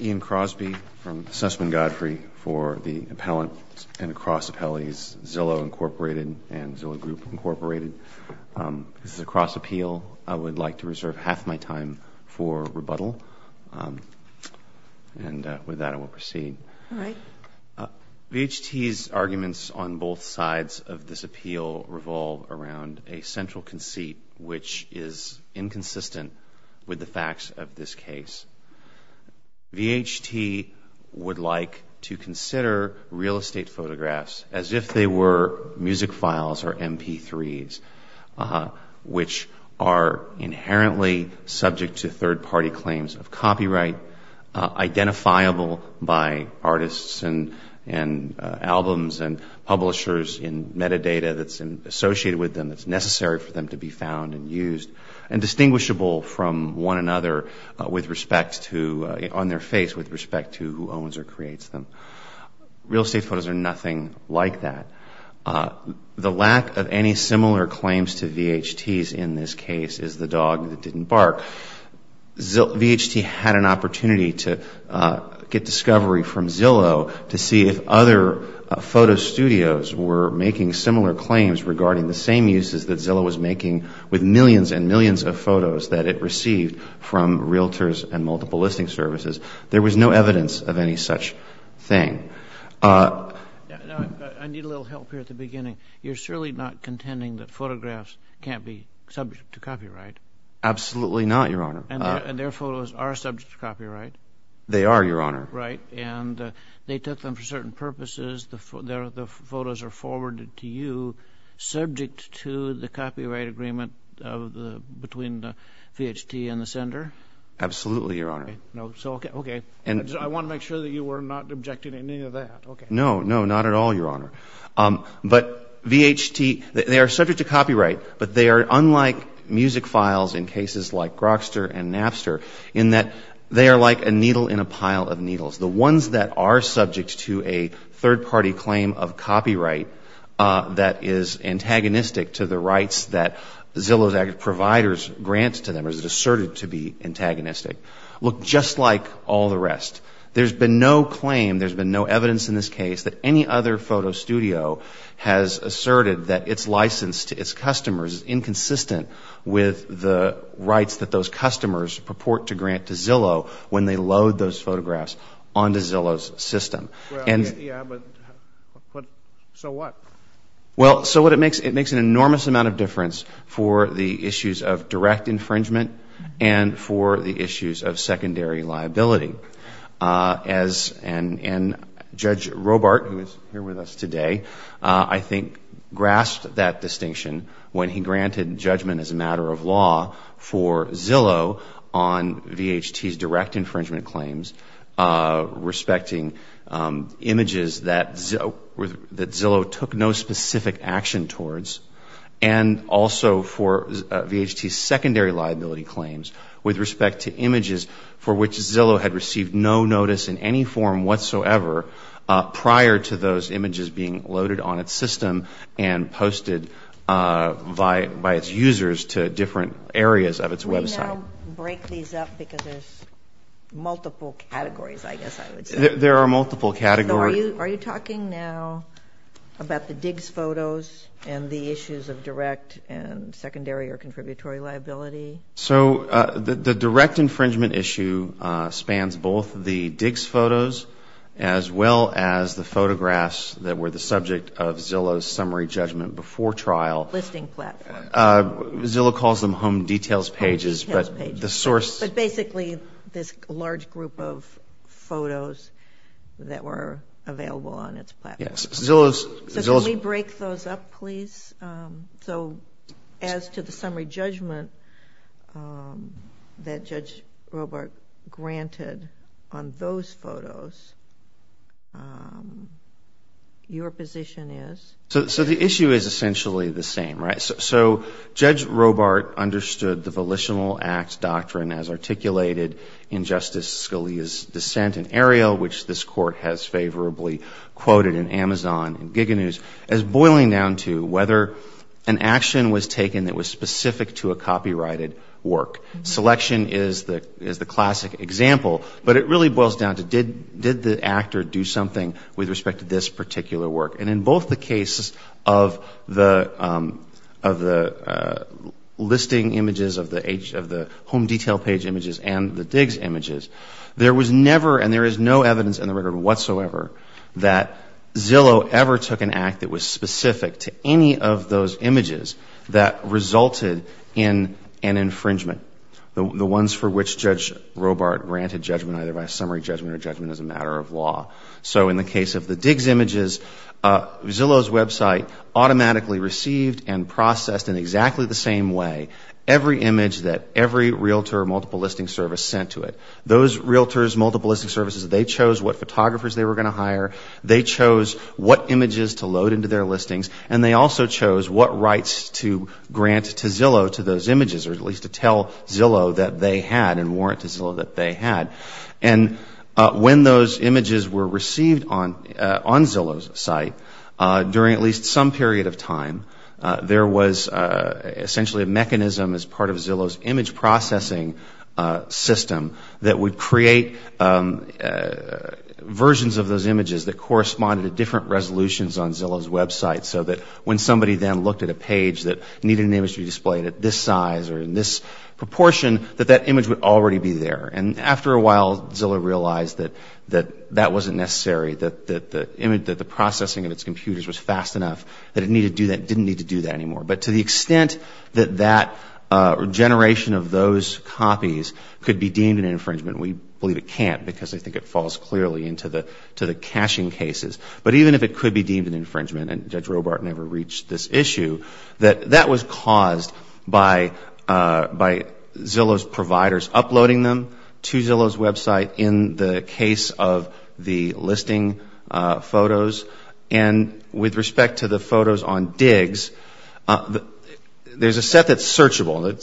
Ian Crosby from Sussman Godfrey for the Appellant and Cross Appellees, Zillow, Inc. and Zillow Group, Inc. This is a cross appeal. I would like to reserve half my time for rebuttal. And with that, I will proceed. All right. VHT's arguments on both sides of this appeal revolve around a central conceit, which is VHT would like to consider real estate photographs as if they were music files or MP3s, which are inherently subject to third-party claims of copyright, identifiable by artists and albums and publishers in metadata that's associated with them, that's necessary for them to be on their face with respect to who owns or creates them. Real estate photos are nothing like that. The lack of any similar claims to VHT's in this case is the dog that didn't bark. VHT had an opportunity to get discovery from Zillow to see if other photo studios were making similar claims regarding the same uses that Zillow was making with millions and millions of photos that it received from realtors and multiple listing services. There was no evidence of any such thing. I need a little help here at the beginning. You're surely not contending that photographs can't be subject to copyright? Absolutely not, Your Honor. And their photos are subject to copyright? They are, Your Honor. Right. And they took them for certain purposes. The photos are forwarded to you subject to the copyright agreement between the VHT and the sender? Absolutely, Your Honor. Okay. I want to make sure that you were not objecting to any of that. No, no, not at all, Your Honor. But VHT, they are subject to copyright, but they are unlike music files in cases like Grokster and Napster in that they are like a needle in a pile of needles. The ones that are subject to a third-party claim of copyright that is antagonistic to the rights that Zillow's ag providers grant to them or is asserted to be antagonistic look just like all the rest. There's been no claim, there's been no evidence in this case that any other photo studio has asserted that its license to its customers is inconsistent with the rights that those on to Zillow's system. Yeah, but so what? Well, so what it makes, it makes an enormous amount of difference for the issues of direct infringement and for the issues of secondary liability. And Judge Robart, who is here with us today, I think grasped that distinction when he granted judgment as a matter of law for Zillow on VHT's direct infringement claims respecting images that Zillow took no specific action towards and also for VHT's secondary liability claims with respect to images for which Zillow had received no notice in any form whatsoever prior to those images being loaded on its system and posted by its users to different areas of its website. Can we now break these up because there's multiple categories, I guess I would say. There are multiple categories. So are you talking now about the DIGS photos and the issues of direct and secondary or contributory liability? So the direct infringement issue spans both the DIGS photos as well as the photographs that were the subject of Zillow's summary judgment before trial. Listing platform. Zillow calls them home details pages, but the source. But basically this large group of photos that were available on its platform. Yes. Zillow's. So can we break those up, please? So as to the summary judgment that Judge Robart granted on those photos, your position is? So the issue is essentially the same, right? So Judge Robart understood the Volitional Act doctrine as articulated in Justice Scalia's dissent in Ariel, which this court has favorably quoted in Amazon and Giga News as boiling down to whether an action was taken that was specific to a copyrighted work. Selection is the classic example, but it really boils down to did the actor do something with respect to this particular work. And in both the cases of the listing images of the home detail page images and the DIGS images, there was never and there is no evidence in the record whatsoever that Zillow ever took an act that was specific to any of those images that resulted in an infringement. The ones for which Judge Robart granted judgment either by summary judgment or judgment as a matter of law. So in the case of the DIGS images, Zillow's website automatically received and processed in exactly the same way every image that every realtor multiple listing service sent to it. Those realtors multiple listing services, they chose what photographers they were going to hire. They chose what images to load into their listings and they also chose what rights to grant to Zillow to those images or at least to tell Zillow that they had and warrant to Zillow that they had. And when those images were received on Zillow's site, during at least some period of time, there was essentially a mechanism as part of Zillow's image processing system that would create versions of those images that corresponded to different resolutions on Zillow's website so that when somebody then looked at a page that needed an image to be displayed at this size or in this proportion, that that image would already be there. And after a while, Zillow realized that that wasn't necessary, that the processing of its computers was fast enough, that it didn't need to do that anymore. But to the extent that that generation of those copies could be deemed an infringement, we believe it can't because I think it falls clearly into the caching cases. But even if it could be deemed an infringement, and Judge Robart never reached this issue, that that was caused by Zillow's providers uploading them to Zillow's website in the There's a set that's searchable.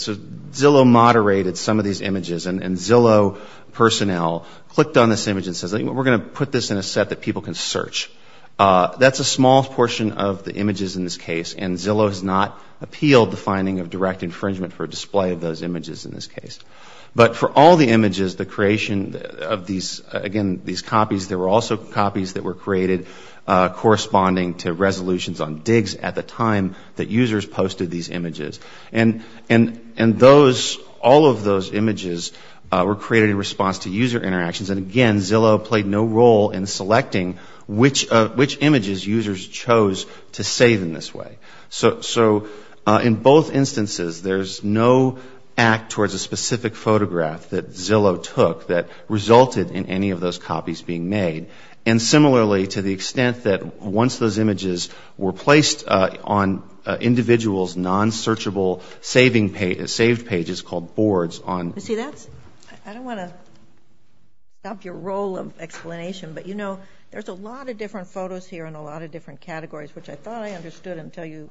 Zillow moderated some of these images, and Zillow personnel clicked on this image and says, we're going to put this in a set that people can search. That's a small portion of the images in this case, and Zillow has not appealed the finding of direct infringement for display of those images in this case. But for all the images, the creation of these, again, these copies, there were also copies that were created corresponding to resolutions on digs at the time that users posted these images. And all of those images were created in response to user interactions, and again, Zillow played no role in selecting which images users chose to save in this way. So in both instances, there's no act towards a specific photograph that Zillow took that resulted in any of those copies being made. And similarly, to the extent that once those images were placed on individuals' non-searchable saved pages called boards on You see, that's, I don't want to stop your roll of explanation, but you know, there's a lot of different photos here in a lot of different categories, which I thought I understood until you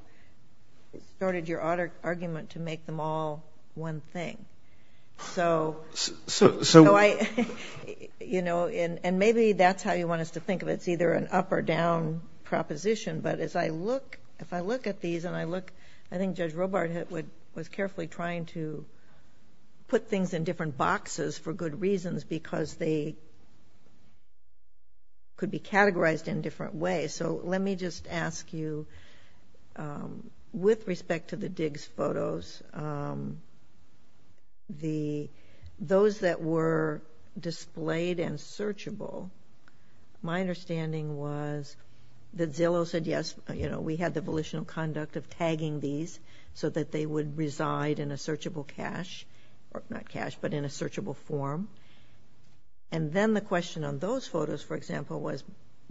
started your argument to make them all one thing. So, you know, and maybe that's how you want us to think of it, it's either an up or down proposition, but as I look, if I look at these and I look, I think Judge Robart was carefully trying to put things in different boxes for good reasons because they could be categorized in different ways. So let me just ask you, with respect to the Diggs photos, the, those that were displayed and searchable, my understanding was that Zillow said, yes, you know, we had the volitional conduct of tagging these so that they would reside in a searchable cache, or not cache, but in a searchable form. And then the question on those photos, for example, was,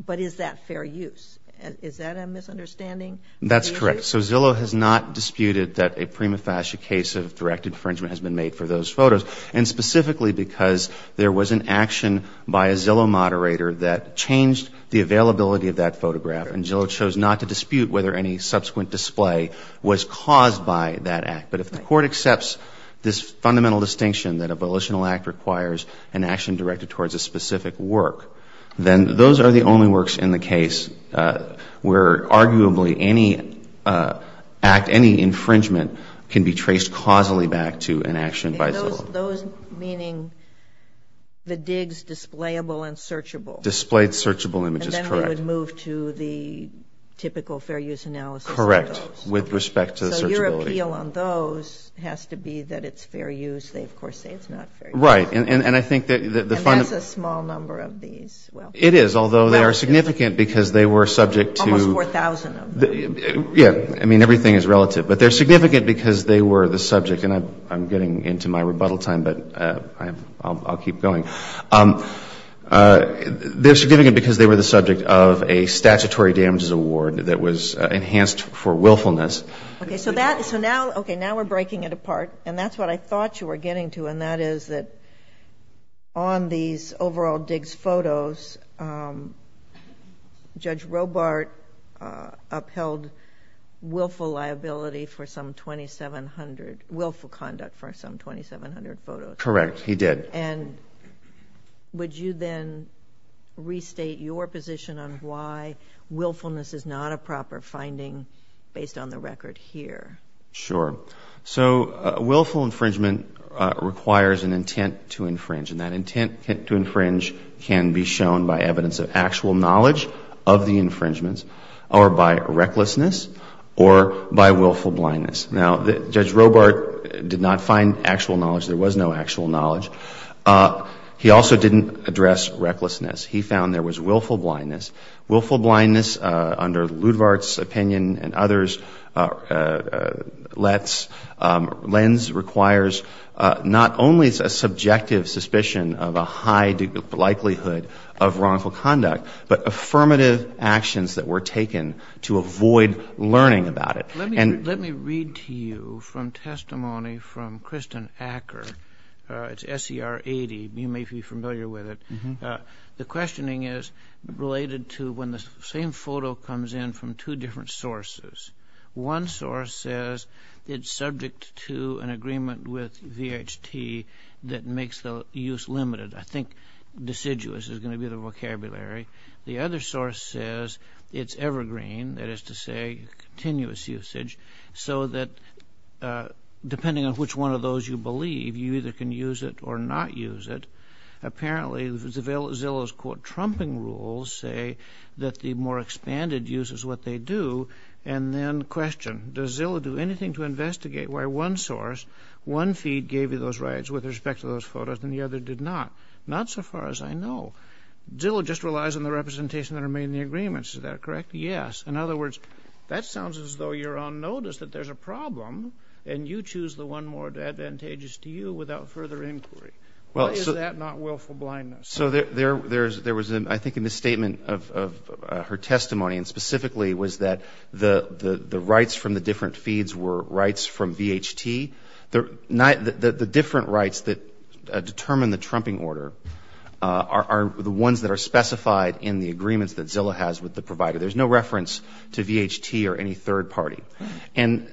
but is that fair use? Is that a misunderstanding? That's correct. So Zillow has not disputed that a prima facie case of direct infringement has been made for those photos, and specifically because there was an action by a Zillow moderator that changed the availability of that photograph, and Zillow chose not to dispute whether any subsequent display was caused by that act. But if the Court accepts this fundamental distinction that a volitional act requires an action directed towards a specific work, then those are the only works in the case where arguably any act, any infringement can be traced causally back to an action by Zillow. Those meaning the Diggs displayable and searchable? Displayed searchable images, correct. And then they would move to the typical fair use analysis of those? Correct, with respect to the searchability. So your appeal on those has to be that it's fair use. They, of course, say it's not fair use. Right. And I think that the fundamental – And that's a small number of these. It is, although they are significant because they were subject to – Almost 4,000 of them. Yeah. I mean, everything is relative. But they're significant because they were the subject – and I'm getting into my rebuttal time, but I'll keep going – they're significant because they were the subject of a statutory damages award that was enhanced for willfulness. Okay, so that – so now – okay, now we're breaking it apart, and that's what I thought you were getting to, and that is that on these overall Diggs photos, Judge Robart upheld willful liability for some 2,700 – willful conduct for some 2,700 photos. Correct. He did. And would you then restate your position on why willfulness is not a proper finding based on the record here? Sure. So willful infringement requires an intent to infringe, and that intent to infringe can be shown by evidence of actual knowledge of the infringements or by recklessness or by willful blindness. Now, Judge Robart did not find actual knowledge. There was no actual knowledge. He also didn't address recklessness. He found there was willful blindness. Willful blindness, under Ludvart's opinion and others, lets – lens – requires not only a subjective suspicion of a high likelihood of wrongful conduct, but affirmative actions that were taken to avoid learning about it. Let me read to you from testimony from Kristen Acker. It's SCR 80. You may be familiar with it. The questioning is related to when the same photo comes in from two different sources. One source says it's subject to an agreement with VHT that makes the use limited. I think deciduous is going to be the vocabulary. The other source says it's evergreen, that is to say continuous usage, so that depending on which one of those you believe, you either can use it or not use it. Apparently, Zillow's, quote, trumping rules say that the more expanded use is what they do and then question, does Zillow do anything to investigate why one source, one feed gave you those rights with respect to those photos and the other did not? Not so far as I know. Zillow just relies on the representation that are made in the agreements. Is that correct? Yes. In other words, that sounds as though you're on notice that there's a problem and you choose the one more advantageous to you without further inquiry. Well, is that not willful blindness? So there was, I think, in the statement of her testimony and specifically was that the rights from the different feeds were rights from VHT. The different rights that determine the trumping order are the ones that are specified in the agreements that Zillow has with the provider. There's no reference to VHT or any third party. And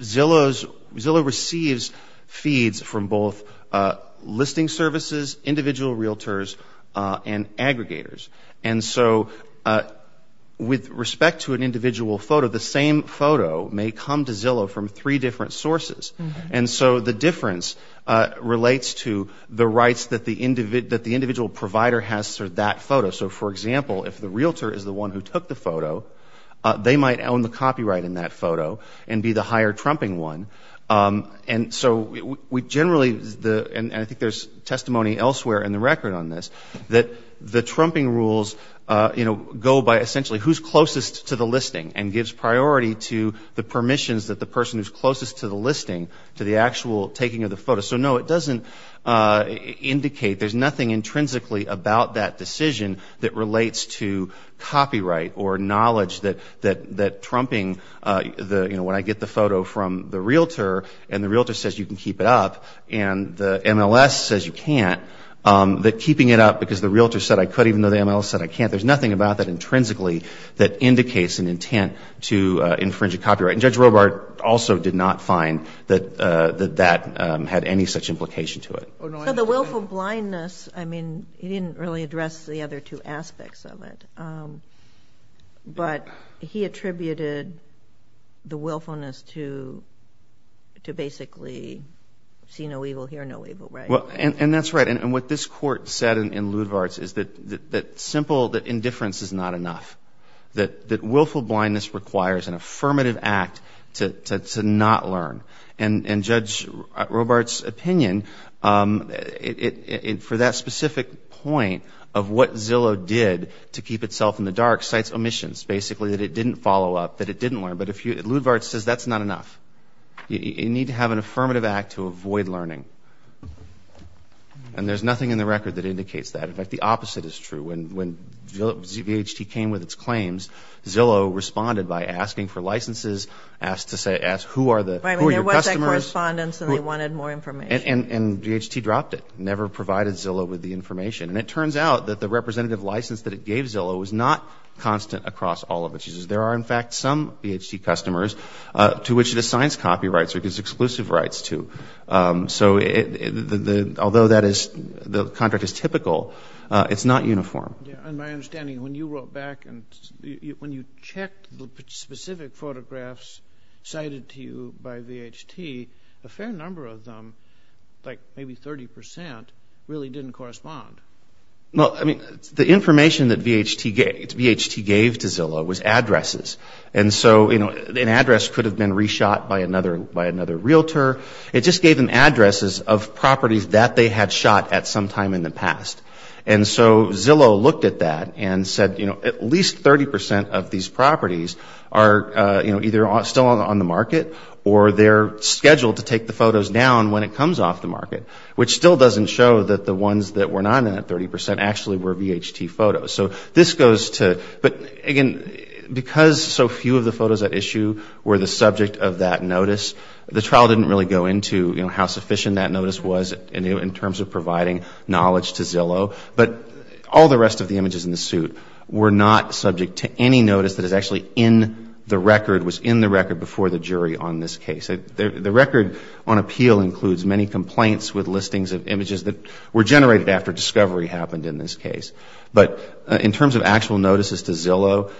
Zillow receives feeds from both listing services, individual realtors, and aggregators. And so with respect to an individual photo, the same photo may come to Zillow from three different sources. And so the difference relates to the rights that the individual provider has for that photo. So, for example, if the realtor is the one who took the photo, they might own the copyright in that photo and be the higher trumping one. And so we generally, and I think there's testimony elsewhere in the record on this, that the trumping rules go by essentially who's closest to the listing and gives priority to the permissions that the person who's closest to the listing to the actual taking of the photo. So no, it doesn't indicate, there's nothing intrinsically about that decision that relates to copyright or knowledge that trumping, you know, when I get the photo from the realtor and the realtor says you can keep it up and the MLS says you can't, that keeping it up because the realtor said I could even though the MLS said I can't, there's nothing about that intrinsically that indicates an intent to infringe a copyright. And Judge Robart also did not find that that had any such implication to it. So the willful blindness, I mean, he didn't really address the other two aspects of it. But he attributed the willfulness to basically see no evil, hear no evil, right? And that's right. And what this court said in Ludvart's is that simple, that indifference is not enough. That willful blindness requires an affirmative act to not learn. And Judge Robart's opinion for that specific point of what Zillow did to keep itself in the dark cites omissions, basically, that it didn't follow up, that it didn't learn. But if you, Ludvart says that's not enough. You need to have an affirmative act to avoid learning. And there's nothing in the record that indicates that. In fact, the opposite is true. When ZBHT came with its claims, Zillow responded by asking for licenses, asked to say, who are the, who are your customers? I mean, there was that correspondence and they wanted more information. And ZBHT dropped it, never provided Zillow with the information. And it turns out that the representative license that it gave Zillow was not constant across all of its users. There are, in fact, some ZBHT customers to which it assigns copyrights or gives exclusive rights to. So although that is, the contract is typical, it's not uniform. And my understanding, when you wrote back and when you checked the specific photographs cited to you by ZBHT, a fair number of them, like maybe 30 percent, really didn't correspond. Well, I mean, the information that ZBHT gave to Zillow was addresses. And so, you know, an address could have been reshot by another, by another realtor. It just gave them addresses of properties that they had shot at some time in the past. And so Zillow looked at that and said, you know, at least 30 percent of these properties are, you know, either still on the market or they're scheduled to take the photos down when it comes off the market, which still doesn't show that the ones that were not in that 30 percent actually were ZBHT photos. So this goes to, but again, because so few of the photos at issue were the subject of that notice, the trial didn't really go into, you know, how sufficient that notice was in terms of providing knowledge to Zillow. But all the rest of the images in the suit were not subject to any notice that is actually in the record, was in the record before the jury on this case. The record on appeal includes many complaints with listings of images that were generated after discovery happened in this case. But in terms of actual notices to Zillow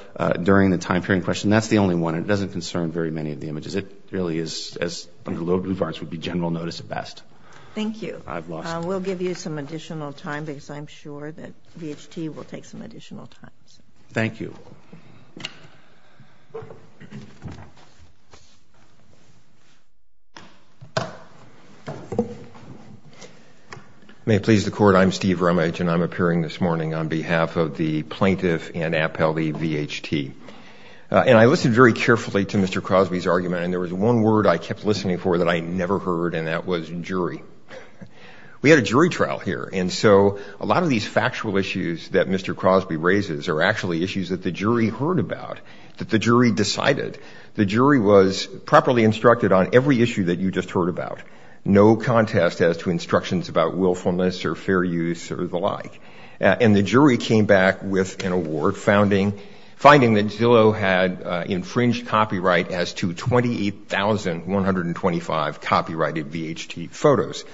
during the time period in question, that's the only one. It doesn't concern very many of the images. It really is, as under low blue bars, would be general notice at best. Thank you. I've lost it. We'll give you some additional time because I'm sure that BHT will take some additional time. Thank you. May it please the Court, I'm Steve Rumage and I'm appearing this morning on behalf of the plaintiff and appellee BHT. And I listened very carefully to Mr. Crosby's argument and there was one word I kept listening for that I never heard and that was jury. We had a jury trial here and so a lot of these factual issues that Mr. Crosby raises are actually issues that the jury heard about, that the jury decided. The jury was properly instructed on every issue that you just heard about. No contest as to instructions about willfulness or fair use or the like. And the jury came back with an award finding that Zillow had infringed copyright as to 28,125 copyrighted BHT photos.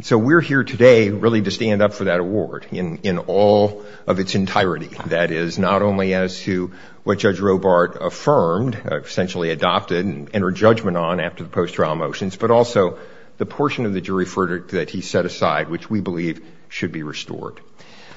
So we're here today really to stand up for that award in all of its entirety. That is not only as to what Judge Robart affirmed, essentially adopted and entered judgment on after the post-trial motions, but also the portion of the jury verdict that he set aside which we believe should be restored.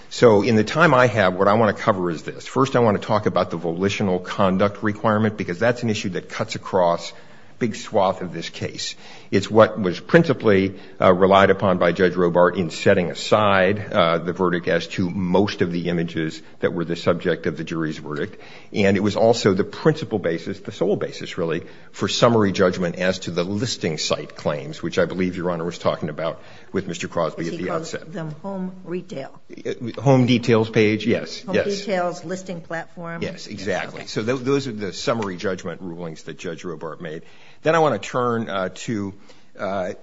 So in the time I have, what I want to cover is this. First I want to talk about the volitional conduct requirement because that's an issue that cuts across a big swath of this case. It's what was principally relied upon by Judge Robart in setting aside the verdict as to most of the images that were the subject of the jury's verdict. And it was also the principal basis, the sole basis really, for summary judgment as to the listing site claims, which I believe Your Honor was talking about with Mr. Crosby at the outset. Is he called the home retail? Home details page? Yes. Yes. Home details, listing platform. Yes, exactly. So those are the summary judgment rulings that Judge Robart made. Then I want to turn to, I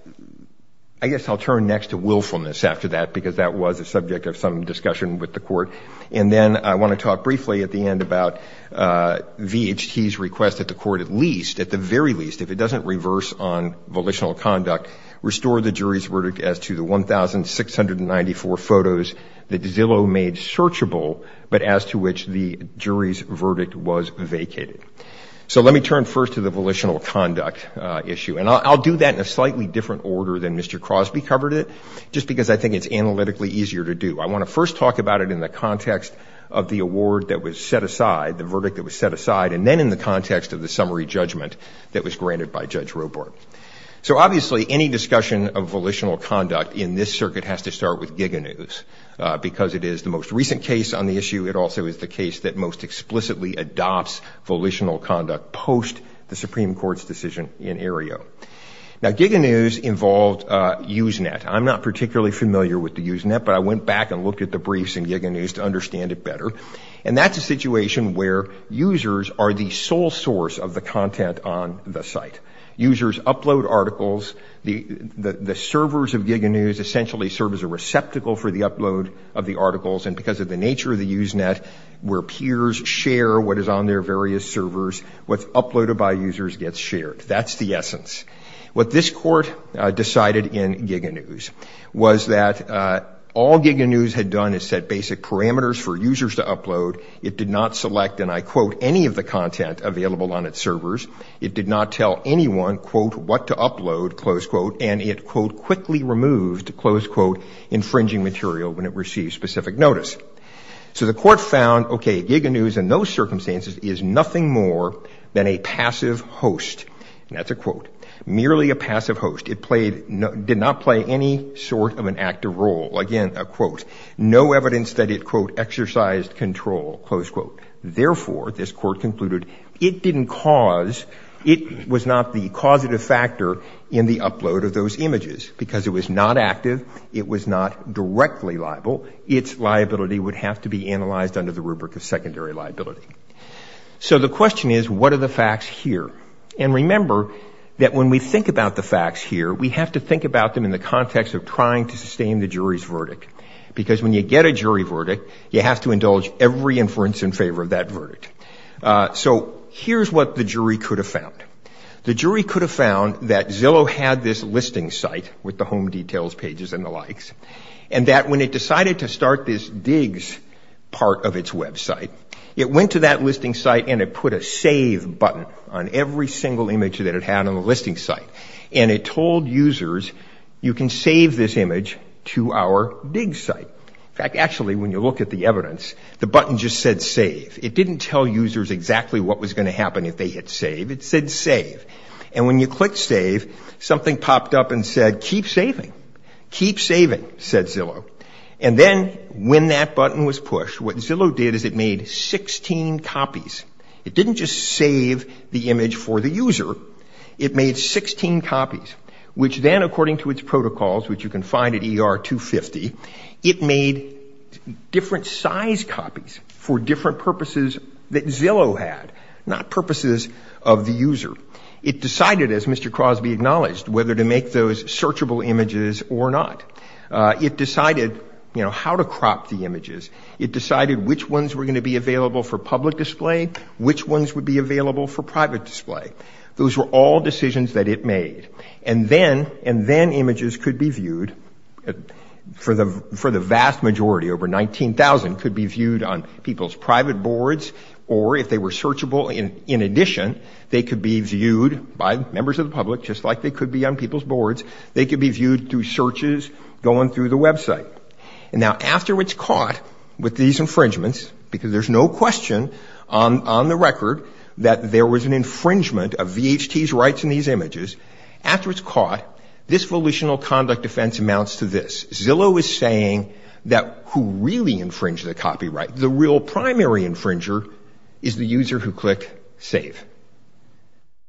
guess I'll turn next to willfulness after that because that was the subject of some discussion with the Court. And then I want to talk briefly at the end about VHT's request that the Court at least, at the very least, if it doesn't reverse on volitional conduct, restore the jury's verdict as to the 1,694 photos that Zillow made searchable but as to which the jury's verdict was vacated. So let me turn first to the volitional conduct issue. And I'll do that in a slightly different order than Mr. Crosby covered it, just because I think it's analytically easier to do. I want to first talk about it in the context of the award that was set aside, the verdict that was set aside, and then in the context of the summary judgment that was granted by Judge Robart. So obviously any discussion of volitional conduct in this circuit has to start with Giga News because it is the most recent case on the issue. It also is the case that most explicitly adopts volitional conduct post the Supreme Court's decision in Aereo. Now Giga News involved Usenet. I'm not particularly familiar with the Usenet, but I went back and looked at the briefs in Giga News to understand it better. And that's a situation where users are the sole source of the content on the site. Users upload articles. The servers of Giga News essentially serve as a receptacle for the upload of the articles. And because of the nature of the Usenet, where peers share what is on their various servers, what's uploaded by users gets shared. That's the essence. What this court decided in Giga News was that all Giga News had done is set basic parameters for users to upload. It did not select, and I quote, any of the content available on its servers. It did not tell anyone, quote, what to upload, close quote. And it, quote, quickly removed, close quote, infringing material when it received specific notice. So the court found, okay, Giga News in those circumstances is nothing more than a passive host. And that's a quote. Merely a passive host. It did not play any sort of an active role, again, a quote. No evidence that it, quote, exercised control, close quote. Therefore, this court concluded, it was not the causative factor in the upload of those images. Because it was not active, it was not directly liable. Its liability would have to be analyzed under the rubric of secondary liability. So the question is, what are the facts here? And remember that when we think about the facts here, we have to think about them in the context of trying to sustain the jury's verdict. Because when you get a jury verdict, you have to indulge every inference in favor of that verdict. So here's what the jury could have found. The jury could have found that Zillow had this listing site with the home details pages and the likes. And that when it decided to start this digs part of its website, it went to that listing site and it put a save button on every single image that it had on the listing site. And it told users, you can save this image to our dig site. In fact, actually, when you look at the evidence, the button just said save. It didn't tell users exactly what was going to happen if they hit save. It said save. And when you clicked save, something popped up and said, keep saving. Keep saving, said Zillow. And then when that button was pushed, what Zillow did is it made 16 copies. It didn't just save the image for the user. It made 16 copies, which then according to its protocols, which you can find at ER 250, it made different size copies for different purposes that Zillow had, not purposes of the user. It decided, as Mr. Crosby acknowledged, whether to make those searchable images or not. It decided how to crop the images. It decided which ones were going to be available for public display, which ones would be available for private display. Those were all decisions that it made. And then images could be viewed for the vast majority, over 19,000 could be viewed on people's private boards, or if they were searchable in addition, they could be viewed by members of the public. They could be viewed through searches, going through the website. And now after it's caught with these infringements, because there's no question on the record that there was an infringement of VHT's rights in these images, after it's caught, this volitional conduct offense amounts to this. Zillow is saying that who really infringed the copyright, the real primary infringer is the user who clicked save.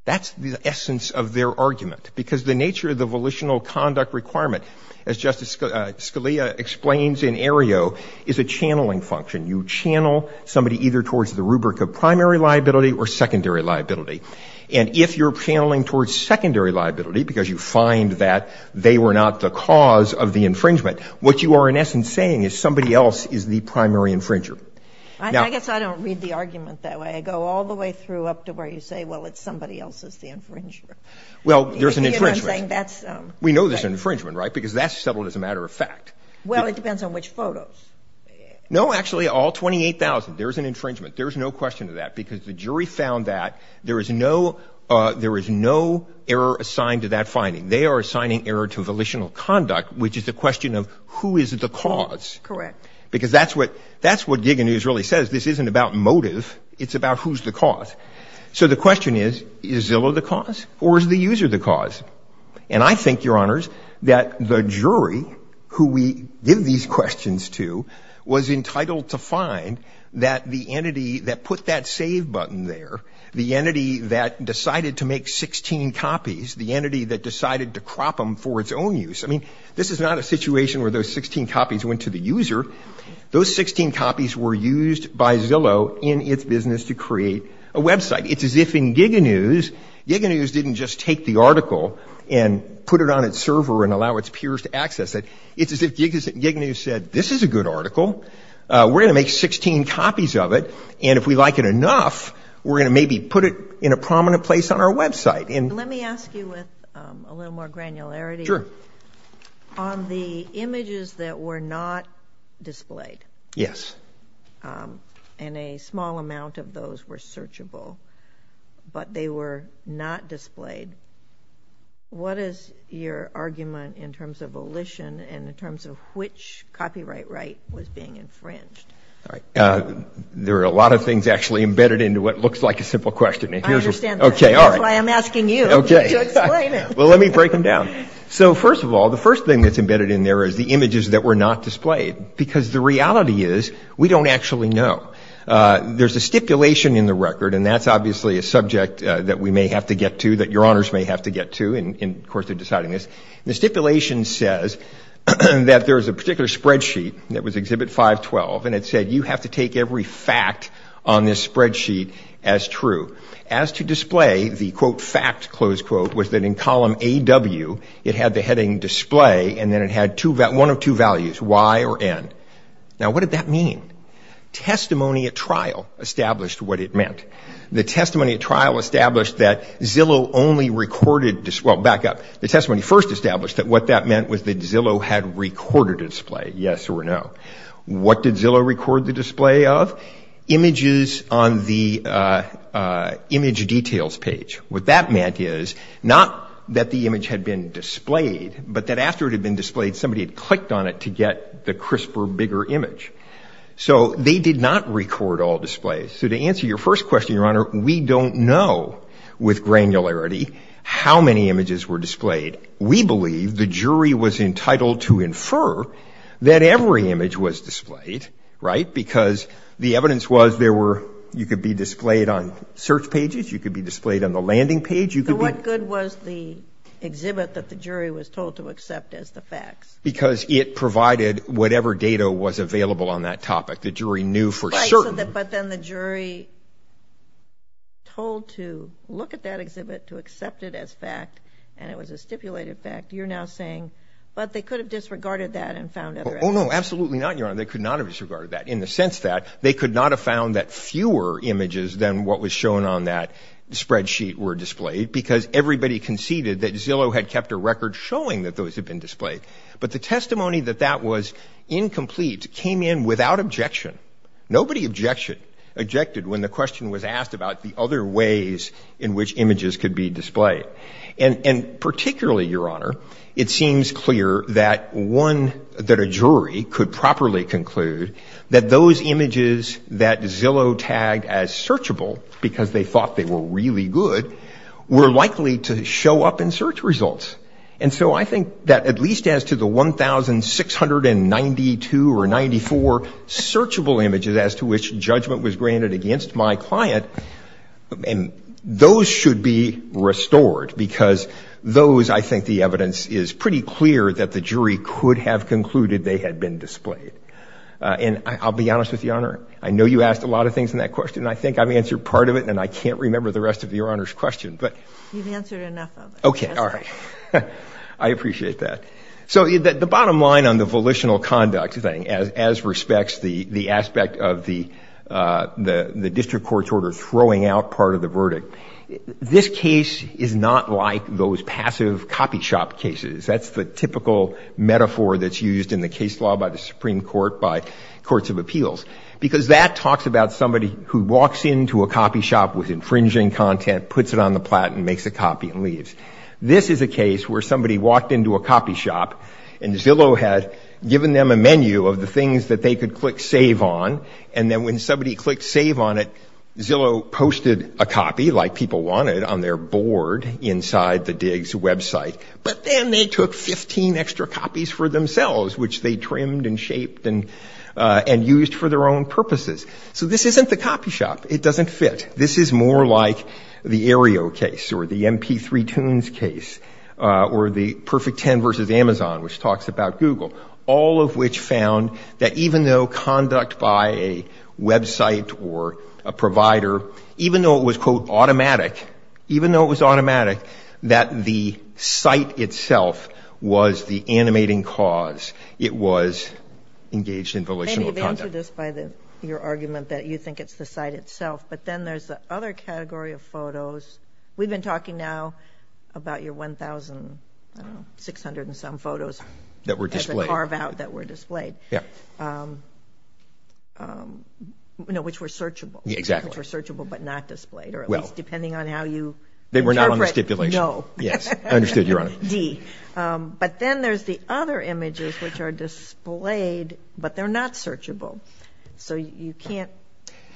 That's the essence of their argument, because the nature of the volitional conduct requirement, as Justice Scalia explains in Aereo, is a channeling function. You channel somebody either towards the rubric of primary liability or secondary liability. And if you're channeling towards secondary liability, because you find that they were not the cause of the infringement, what you are in essence saying is somebody else is the primary infringer. I guess I don't read the argument that way. You go all the way through up to where you say, well, it's somebody else that's the infringer. Well, there's an infringement. We know there's an infringement, right? Because that's settled as a matter of fact. Well, it depends on which photos. No, actually, all 28,000. There's an infringement. There's no question of that, because the jury found that there is no error assigned to that finding. They are assigning error to volitional conduct, which is a question of who is the cause. Correct. Because that's what Giga News really says. This isn't about motive. It's about who's the cause. So the question is, is Zillow the cause or is the user the cause? And I think, Your Honors, that the jury who we give these questions to was entitled to find that the entity that put that save button there, the entity that decided to make 16 copies, the entity that decided to crop them for its own use. I mean, this is not a situation where those 16 copies went to the user. Those 16 copies were used by Zillow in its business to create a website. It's as if in Giga News, Giga News didn't just take the article and put it on its server and allow its peers to access it. It's as if Giga News said, this is a good article. We're going to make 16 copies of it. And if we like it enough, we're going to maybe put it in a prominent place on our website. Let me ask you with a little more granularity. Sure. On the images that were not displayed. Yes. And a small amount of those were searchable, but they were not displayed. What is your argument in terms of volition and in terms of which copyright right was being infringed? All right. There are a lot of things actually embedded into what looks like a simple question. I understand that. Okay. All right. That's why I'm asking you to explain it. Well, let me break them down. So, first of all, the first thing that's embedded in there is the images that were not displayed because the reality is we don't actually know. There's a stipulation in the record, and that's obviously a subject that we may have to get to, that your honors may have to get to, and of course they're deciding this. The stipulation says that there's a particular spreadsheet that was Exhibit 512, and it said you have to take every fact on this spreadsheet as true. As to display, the quote, fact, close quote, was that in column AW, it had the heading display and then it had one of two values, Y or N. Now what did that mean? Testimony at trial established what it meant. The testimony at trial established that Zillow only recorded, well, back up, the testimony first established that what that meant was that Zillow had recorded a display, yes or no. What did Zillow record the display of? Images on the image details page. What that meant is not that the image had been displayed, but that after it had been displayed somebody had clicked on it to get the crisper, bigger image. So they did not record all displays. So to answer your first question, your honor, we don't know with granularity how many images were displayed. We believe the jury was entitled to infer that every image was displayed, right, because the evidence was there were, you could be displayed on search pages, you could be displayed on the landing page. You could be. So what good was the exhibit that the jury was told to accept as the facts? Because it provided whatever data was available on that topic. The jury knew for certain. Right. But then the jury told to look at that exhibit, to accept it as fact, and it was a stipulated fact. You're now saying, but they could have disregarded that and found other evidence. Oh, no, absolutely not, your honor. They could not have disregarded that. In the sense that they could not have found that fewer images than what was shown on that spreadsheet were displayed because everybody conceded that Zillow had kept a record showing that those had been displayed. But the testimony that that was incomplete came in without objection. Nobody objected when the question was asked about the other ways in which images could be displayed. And particularly, your honor, it seems clear that one, that a jury could properly conclude that those images that Zillow tagged as searchable, because they thought they were really good, were likely to show up in search results. And so I think that at least as to the 1,692 or 94 searchable images as to which judgment was granted against my client, those should be restored because those, I think the evidence is pretty clear that the jury could have concluded they had been displayed. And I'll be honest with you, your honor, I know you asked a lot of things in that question and I think I've answered part of it and I can't remember the rest of your honor's question, but. You've answered enough of it. Okay. All right. I appreciate that. So the bottom line on the volitional conduct thing as respects the aspect of the district court's order throwing out part of the verdict, this case is not like those passive copy shop cases. That's the typical metaphor that's used in the case law by the Supreme Court, by courts of appeals. Because that talks about somebody who walks into a copy shop with infringing content, puts it on the plat and makes a copy and leaves. This is a case where somebody walked into a copy shop and Zillow had given them a menu of the things that they could click save on. And then when somebody clicked save on it, Zillow posted a copy like people wanted on their board inside the digs website, but then they took 15 extra copies for themselves, which they trimmed and shaped and used for their own purposes. So this isn't the copy shop. It doesn't fit. This is more like the Aereo case or the MP3 tunes case or the perfect 10 versus Amazon, which talks about Google. All of which found that even though conduct by a website or a provider, even though it was quote automatic, even though it was automatic, that the site itself was the animating cause. It was engaged in volitional conduct. They answered this by your argument that you think it's the site itself. But then there's the other category of photos. We've been talking now about your 1,600 and some photos that were displayed, carve out that were displayed. Yeah. Which were searchable. Exactly. Which were searchable, but not displayed, or at least depending on how you. They were not on the stipulation. No. Yes. Understood. You're on it. D. But then there's the other images which are displayed, but they're not searchable. So you can't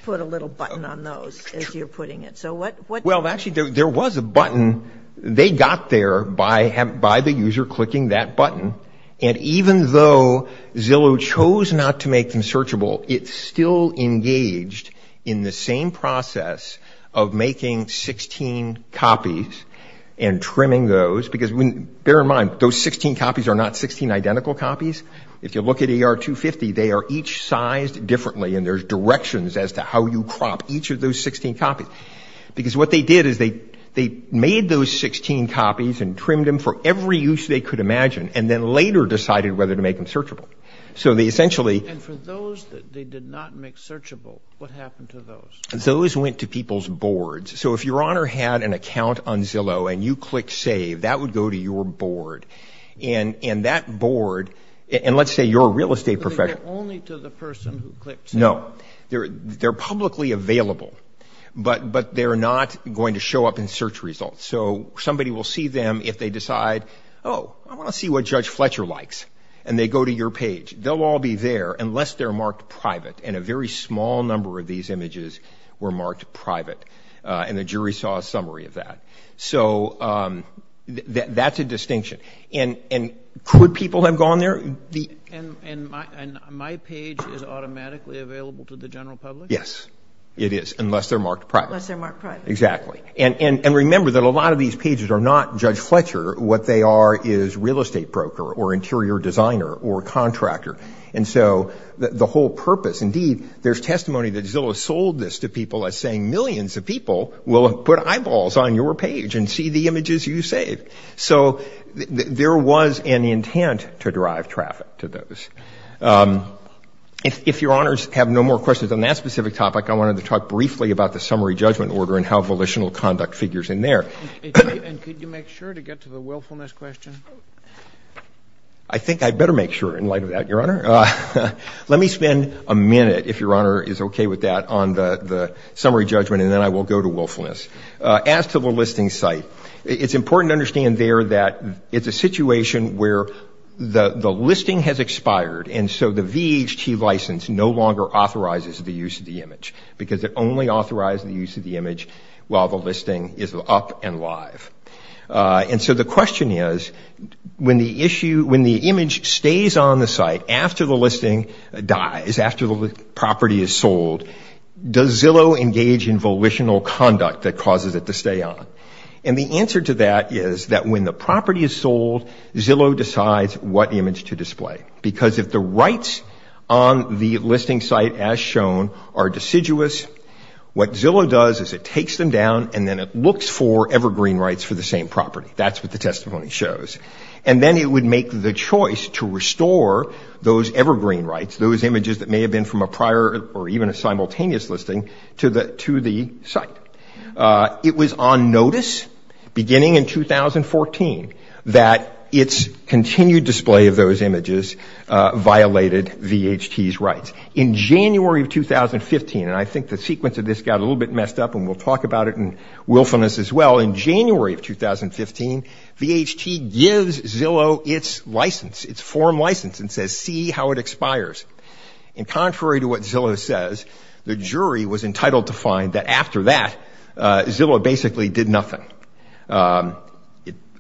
put a little button on those as you're putting it. So what? Well, actually there was a button. They got there by the user clicking that button. And even though Zillow chose not to make them searchable, it still engaged in the same process of making 16 copies and trimming those, because bear in mind, those 16 copies are not 16 identical copies. If you look at ER 250, they are each sized differently, and there's directions as to how you crop each of those 16 copies. Because what they did is they made those 16 copies and trimmed them for every use they could imagine, and then later decided whether to make them searchable. So they essentially. And for those that they did not make searchable, what happened to those? Those went to people's boards. So if your honor had an account on Zillow and you clicked save, that would go to your board. And that board, and let's say your real estate professional. But they get only to the person who clicked save? No. They're publicly available, but they're not going to show up in search results. So somebody will see them if they decide, oh, I want to see what Judge Fletcher likes. And they go to your page. They'll all be there unless they're marked private. And a very small number of these images were marked private. And the jury saw a summary of that. So that's a distinction. And could people have gone there? And my page is automatically available to the general public? Yes, it is, unless they're marked private. Unless they're marked private. Exactly. And remember that a lot of these pages are not Judge Fletcher. What they are is real estate broker or interior designer or contractor. And so the whole purpose, indeed, there's testimony that Zillow sold this to people as saying millions of people will put eyeballs on your page and see the images you save. So there was an intent to drive traffic to those. If your honors have no more questions on that specific topic, I wanted to talk briefly about the summary judgment order and how volitional conduct figures in there. And could you make sure to get to the willfulness question? I think I'd better make sure in light of that, your honor. Let me spend a minute, if your honor is okay with that, on the summary judgment, and then I will go to willfulness. As to the listing site, it's important to understand there that it's a situation where the listing has expired, and so the VHT license no longer authorizes the use of the image because it only authorized the use of the image while the listing is up and live. And so the question is, when the image stays on the site after the listing dies, after the property is sold, does Zillow engage in volitional conduct that causes it to stay on? And the answer to that is that when the property is sold, Zillow decides what image to display because if the rights on the listing site, as shown, are deciduous, what Zillow does is it takes them down and then it looks for evergreen rights for the same property. That's what the testimony shows. And then it would make the choice to restore those evergreen rights, those images that may have been from a prior or even a simultaneous listing, to the site. It was on notice, beginning in 2014, that its continued display of those images violated VHT's rights. In January of 2015, and I think the sequence of this got a little bit messed up and we'll talk about it in willfulness as well, in January of 2015, VHT gives Zillow its license, its form license, and says, see how it expires. And contrary to what Zillow says, the jury was entitled to find that after that, Zillow basically did nothing.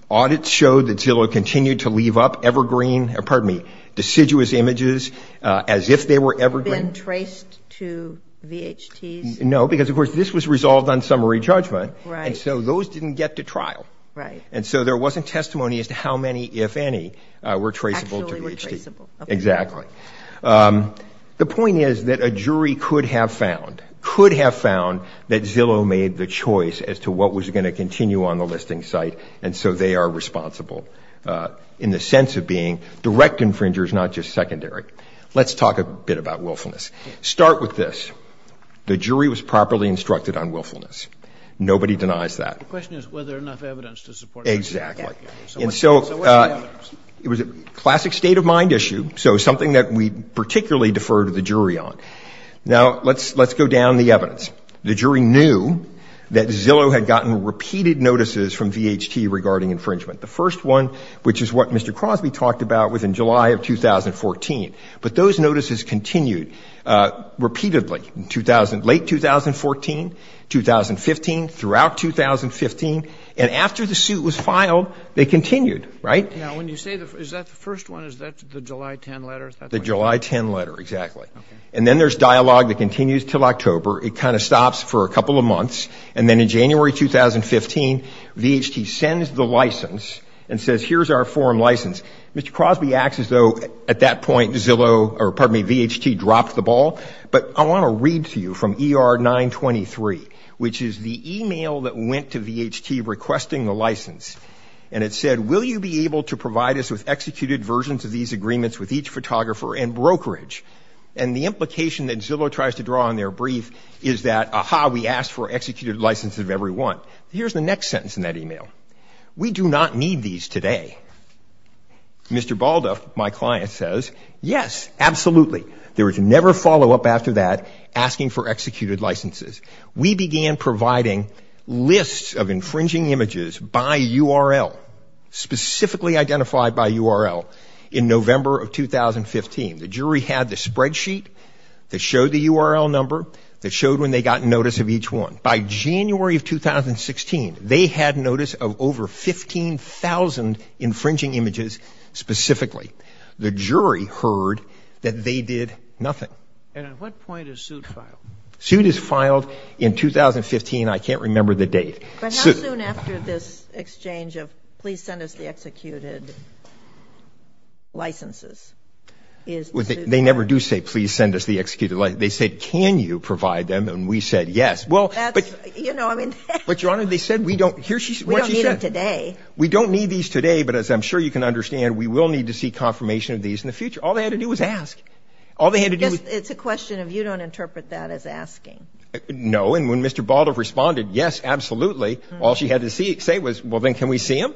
Audits showed that Zillow continued to leave up deciduous images as if they were evergreen. Were they traced to VHT's? No, because of course this was resolved on summary judgment, and so those didn't get to trial. Right. And so there wasn't testimony as to how many, if any, were traceable to VHT. Exactly. The point is that a jury could have found, could have found, that Zillow made the choice as to what was going to continue on the listing site, and so they are responsible in the sense of being direct infringers, not just secondary. Let's talk a bit about willfulness. Start with this. The jury was properly instructed on willfulness. Nobody denies that. The question is, were there enough evidence to support that? Exactly. And so it was a classic state of mind issue, so something that we particularly defer to the jury on. Now let's go down the evidence. The jury knew that Zillow had gotten repeated notices from VHT regarding infringement. The first one, which is what Mr. Crosby talked about, was in July of 2014, but those notices continued repeatedly in late 2014, 2015, throughout 2015, and after the suit was filed, they continued, right? Now, when you say, is that the first one, is that the July 10 letter? The July 10 letter, exactly. And then there's dialogue that continues until October. It kind of stops for a couple of months, and then in January 2015, VHT sends the license and says, here's our form license. Mr. Crosby acts as though, at that point, Zillow, or pardon me, VHT dropped the ball, but I want to read to you from ER 923, which is the email that went to VHT requesting the license, and it said, will you be able to provide us with executed versions of these agreements with each photographer and brokerage? And the implication that Zillow tries to draw on their brief is that, aha, we asked for executed licenses of every one. Here's the next sentence in that email. We do not need these today. Mr. Balduff, my client, says, yes, absolutely. There was never follow-up after that asking for executed licenses. We began providing lists of infringing images by URL, specifically identified by URL, in November of 2015. The jury had the spreadsheet that showed the URL number, that showed when they got notice of each one. By January of 2016, they had notice of over 15,000 infringing images specifically. The jury heard that they did nothing. And at what point is suit filed? Suit is filed in 2015. I can't remember the date. But how soon after this exchange of, please send us the executed licenses? They never do say, please send us the executed license. They say, can you provide them? And we said, yes. But, Your Honor, they said, we don't need them today. We don't need these today, but as I'm sure you can understand, we will need to see confirmation of these in the future. All they had to do was ask. It's a question of you don't interpret that as asking. No, and when Mr. Balduff responded, yes, absolutely, all she had to say was, well, then can we see them?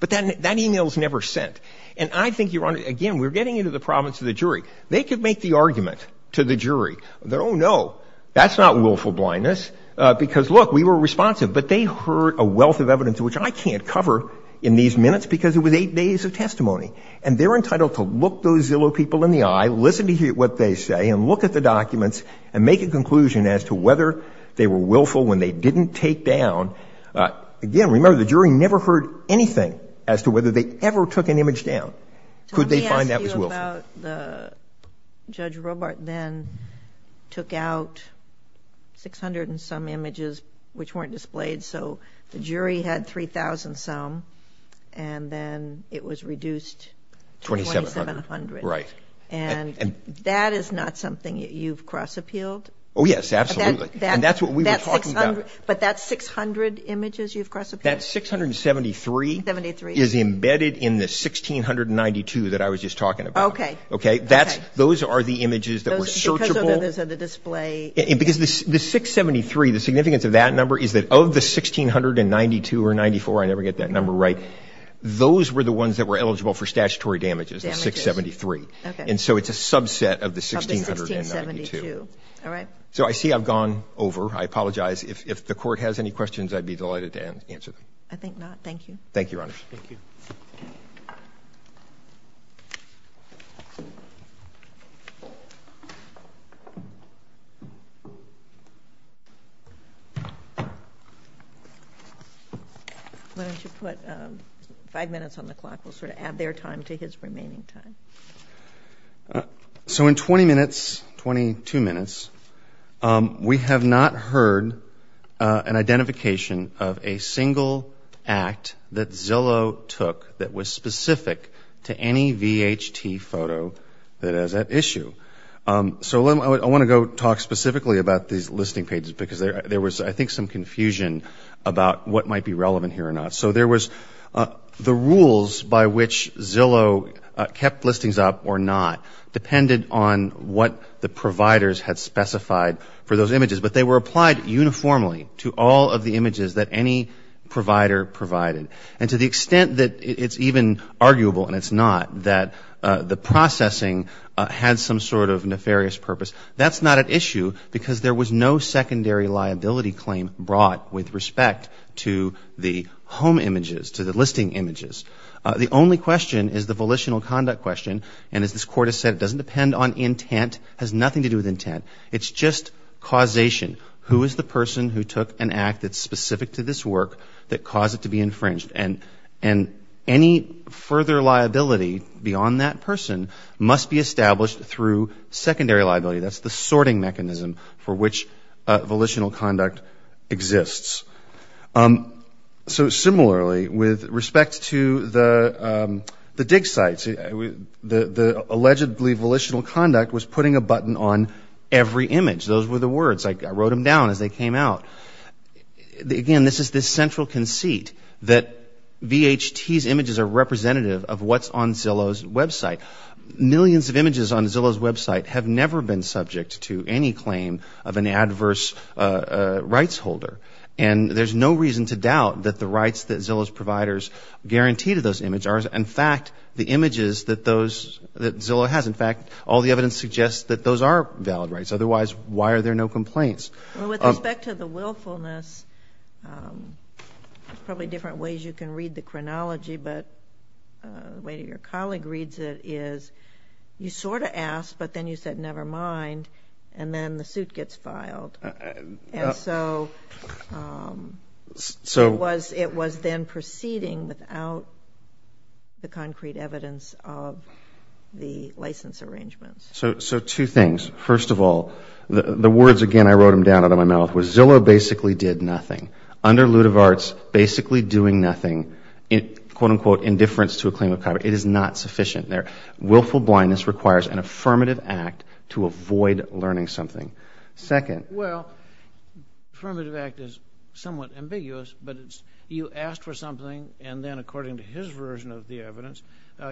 But then that email was never sent. And I think, Your Honor, again, we're getting into the province of the jury. They could make the argument to the jury that, oh, no, that's not willful blindness. Because, look, we were responsive. But they heard a wealth of evidence, which I can't cover in these minutes because it was eight days of testimony. And they're entitled to look those Zillow people in the eye, listen to what they say, and look at the documents, and make a conclusion as to whether they were willful when they didn't take down. Again, remember, the jury never heard anything as to whether they ever took an image down. Could they find that was willful? Well, it turns out Judge Robart then took out 600 and some images which weren't displayed. So the jury had 3,000 some. And then it was reduced to 2,700. And that is not something that you've cross-appealed? Oh, yes, absolutely. And that's what we were talking about. But that 600 images you've cross-appealed? That 673 is embedded in the 1,692 that I was just talking about. Okay. Okay. Those are the images that were searchable. Because those are the display. Because the 673, the significance of that number is that of the 1,692 or 94, I never get that number right, those were the ones that were eligible for statutory damages, the 673. And so it's a subset of the 1,692. Of the 1,672. All right. So I see I've gone over. I apologize. If the Court has any questions, I'd be delighted to answer them. I think not. Thank you. Thank you, Your Honors. Why don't you put five minutes on the clock? We'll sort of add their time to his remaining time. So in 20 minutes, 22 minutes, we have not heard an identification of a single act that any VHT photo that has that issue. So I want to go talk specifically about these listing pages because there was, I think, some confusion about what might be relevant here or not. So there was the rules by which Zillow kept listings up or not depended on what the providers had specified for those images. But they were applied uniformly to all of the images that any provider provided. And to the extent that it's even arguable, and it's not, that the processing had some sort of nefarious purpose, that's not at issue because there was no secondary liability claim brought with respect to the home images, to the listing images. The only question is the volitional conduct question. And as this Court has said, it doesn't depend on intent, has nothing to do with intent. It's just causation. Who is the person who took an act that's specific to this work that caused it to be infringed? And any further liability beyond that person must be established through secondary liability. That's the sorting mechanism for which volitional conduct exists. So similarly, with respect to the dig sites, the allegedly volitional conduct was putting a button on every image. Those were the words. I wrote them down as they came out. Again, this is the central conceit that VHT's images are representative of what's on Zillow's website. Millions of images on Zillow's website have never been subject to any claim of an adverse rights holder. And there's no reason to doubt that the rights that Zillow's providers guarantee to those images are, in fact, the images that Zillow has. In fact, all the evidence suggests that those are valid rights. Otherwise, why are there no complaints? Well, with respect to the willfulness, there's probably different ways you can read the chronology, but the way your colleague reads it is you sort of ask, but then you said, never mind, and then the suit gets filed. And so it was then proceeding without the concrete evidence of the license arrangements. So two things. First of all, the words, again, I wrote them down out of my mouth, was Zillow basically did nothing. Under lieu of arts, basically doing nothing, quote, unquote, indifference to a claim of copyright. It is not sufficient there. Willful blindness requires an affirmative act to avoid learning something. Second. Well, affirmative act is somewhat ambiguous, but it's you asked for something and then according to his version of the evidence,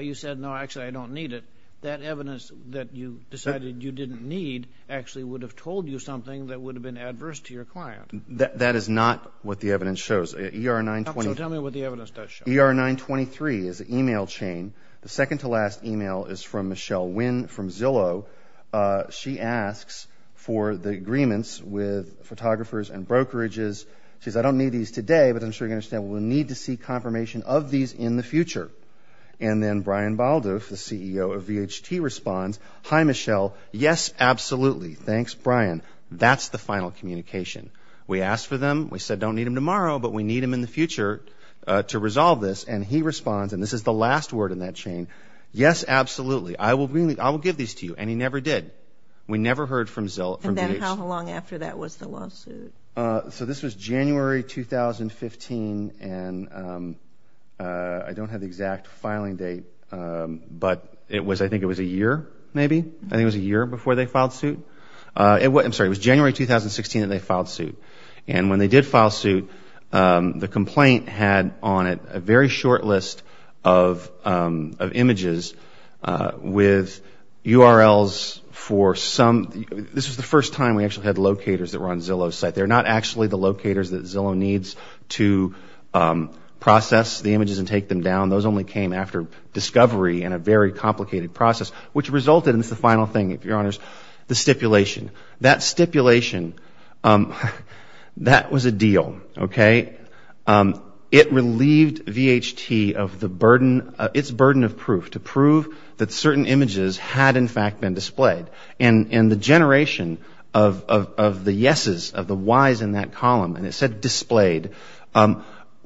you said, no, actually, I don't need it. That evidence that you decided you didn't need actually would have told you something that would have been adverse to your client. That is not what the evidence shows. So tell me what the evidence does show. ER 923 is an email chain. The second to last email is from Michelle Wynn from Zillow. She asks for the agreements with photographers and brokerages. She says, I don't need these today, but I'm sure you're going to say, well, we'll need to see confirmation of these in the future. And then Brian Balduff, the CEO of VHT, responds, hi, Michelle, yes, absolutely, thanks, Brian. That's the final communication. We asked for them. We said, don't need them tomorrow, but we need them in the future to resolve this. And he responds, and this is the last word in that chain, yes, absolutely, I will give these to you. And he never did. We never heard from Zillow. And then how long after that was the lawsuit? So this was January 2015, and I don't have the exact filing date, but it was, I think it was a year, maybe? I think it was a year before they filed suit. I'm sorry, it was January 2016 that they filed suit. And when they did file suit, the complaint had on it a very short list of images with URLs for some, this was the first time we actually had locators that were on Zillow's website. They're not actually the locators that Zillow needs to process the images and take them down. Those only came after discovery and a very complicated process, which resulted, and it's the final thing, if you're honest, the stipulation. That stipulation, that was a deal, okay? It relieved VHT of the burden, its burden of proof, to prove that certain images had, in fact, been displayed. And the generation of the yeses, of the whys in that column, and it said displayed,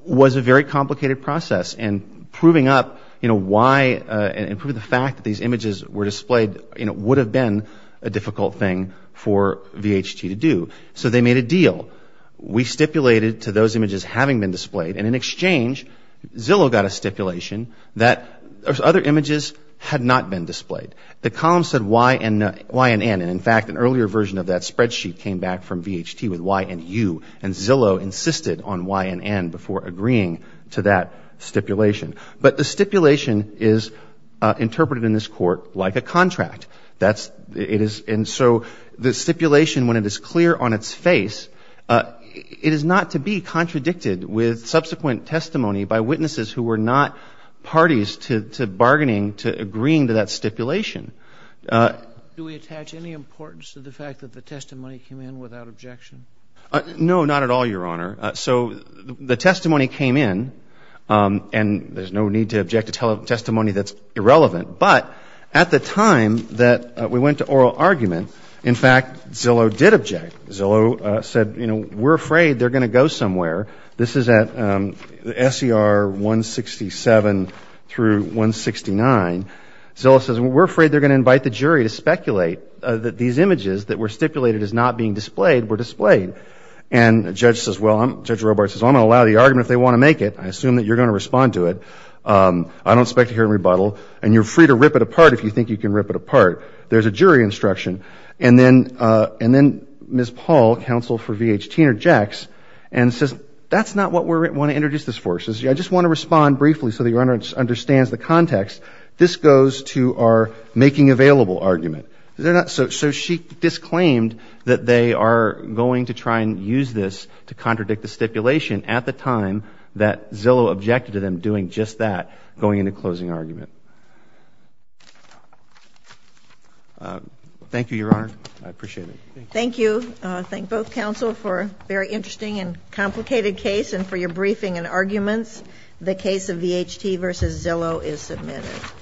was a very complicated process. And proving up why, and proving the fact that these images were displayed would have been a difficult thing for VHT to do. So they made a deal. We stipulated to those images having been displayed, and in exchange, Zillow got a stipulation that other images had not been displayed. The column said Y and N, and in fact, an earlier version of that spreadsheet came back from VHT with Y and U, and Zillow insisted on Y and N before agreeing to that stipulation. But the stipulation is interpreted in this court like a contract. And so the stipulation, when it is clear on its face, it is not to be contradicted with subsequent testimony by witnesses who were not parties to bargaining, to agreeing to that stipulation. Do we attach any importance to the fact that the testimony came in without objection? No, not at all, Your Honor. So the testimony came in, and there is no need to object to testimony that is irrelevant. But at the time that we went to oral argument, in fact, Zillow did object. Zillow said, you know, we are afraid they are going to go somewhere. This is at SER 167 through 169. Zillow says, we are afraid they are going to invite the jury to speculate that these images that were stipulated as not being displayed were displayed. And Judge Robart says, well, I am going to allow the argument if they want to make it. I assume that you are going to respond to it. I don't expect to hear a rebuttal, and you are free to rip it apart if you think you can rip it apart. There is a jury instruction. And then Ms. Paul, counsel for VHT, interjects and says, that is not what we want to introduce this for. She says, I just want to respond briefly so that Your Honor understands the context. This goes to our making available argument. So she disclaimed that they are going to try and use this to contradict the stipulation at the time that Zillow objected to them doing just that, going into closing argument. Thank you, Your Honor. I appreciate it. Thank you. I thank both counsel for a very interesting and complicated case and for your briefing and arguments. The case of VHT v. Zillow is submitted.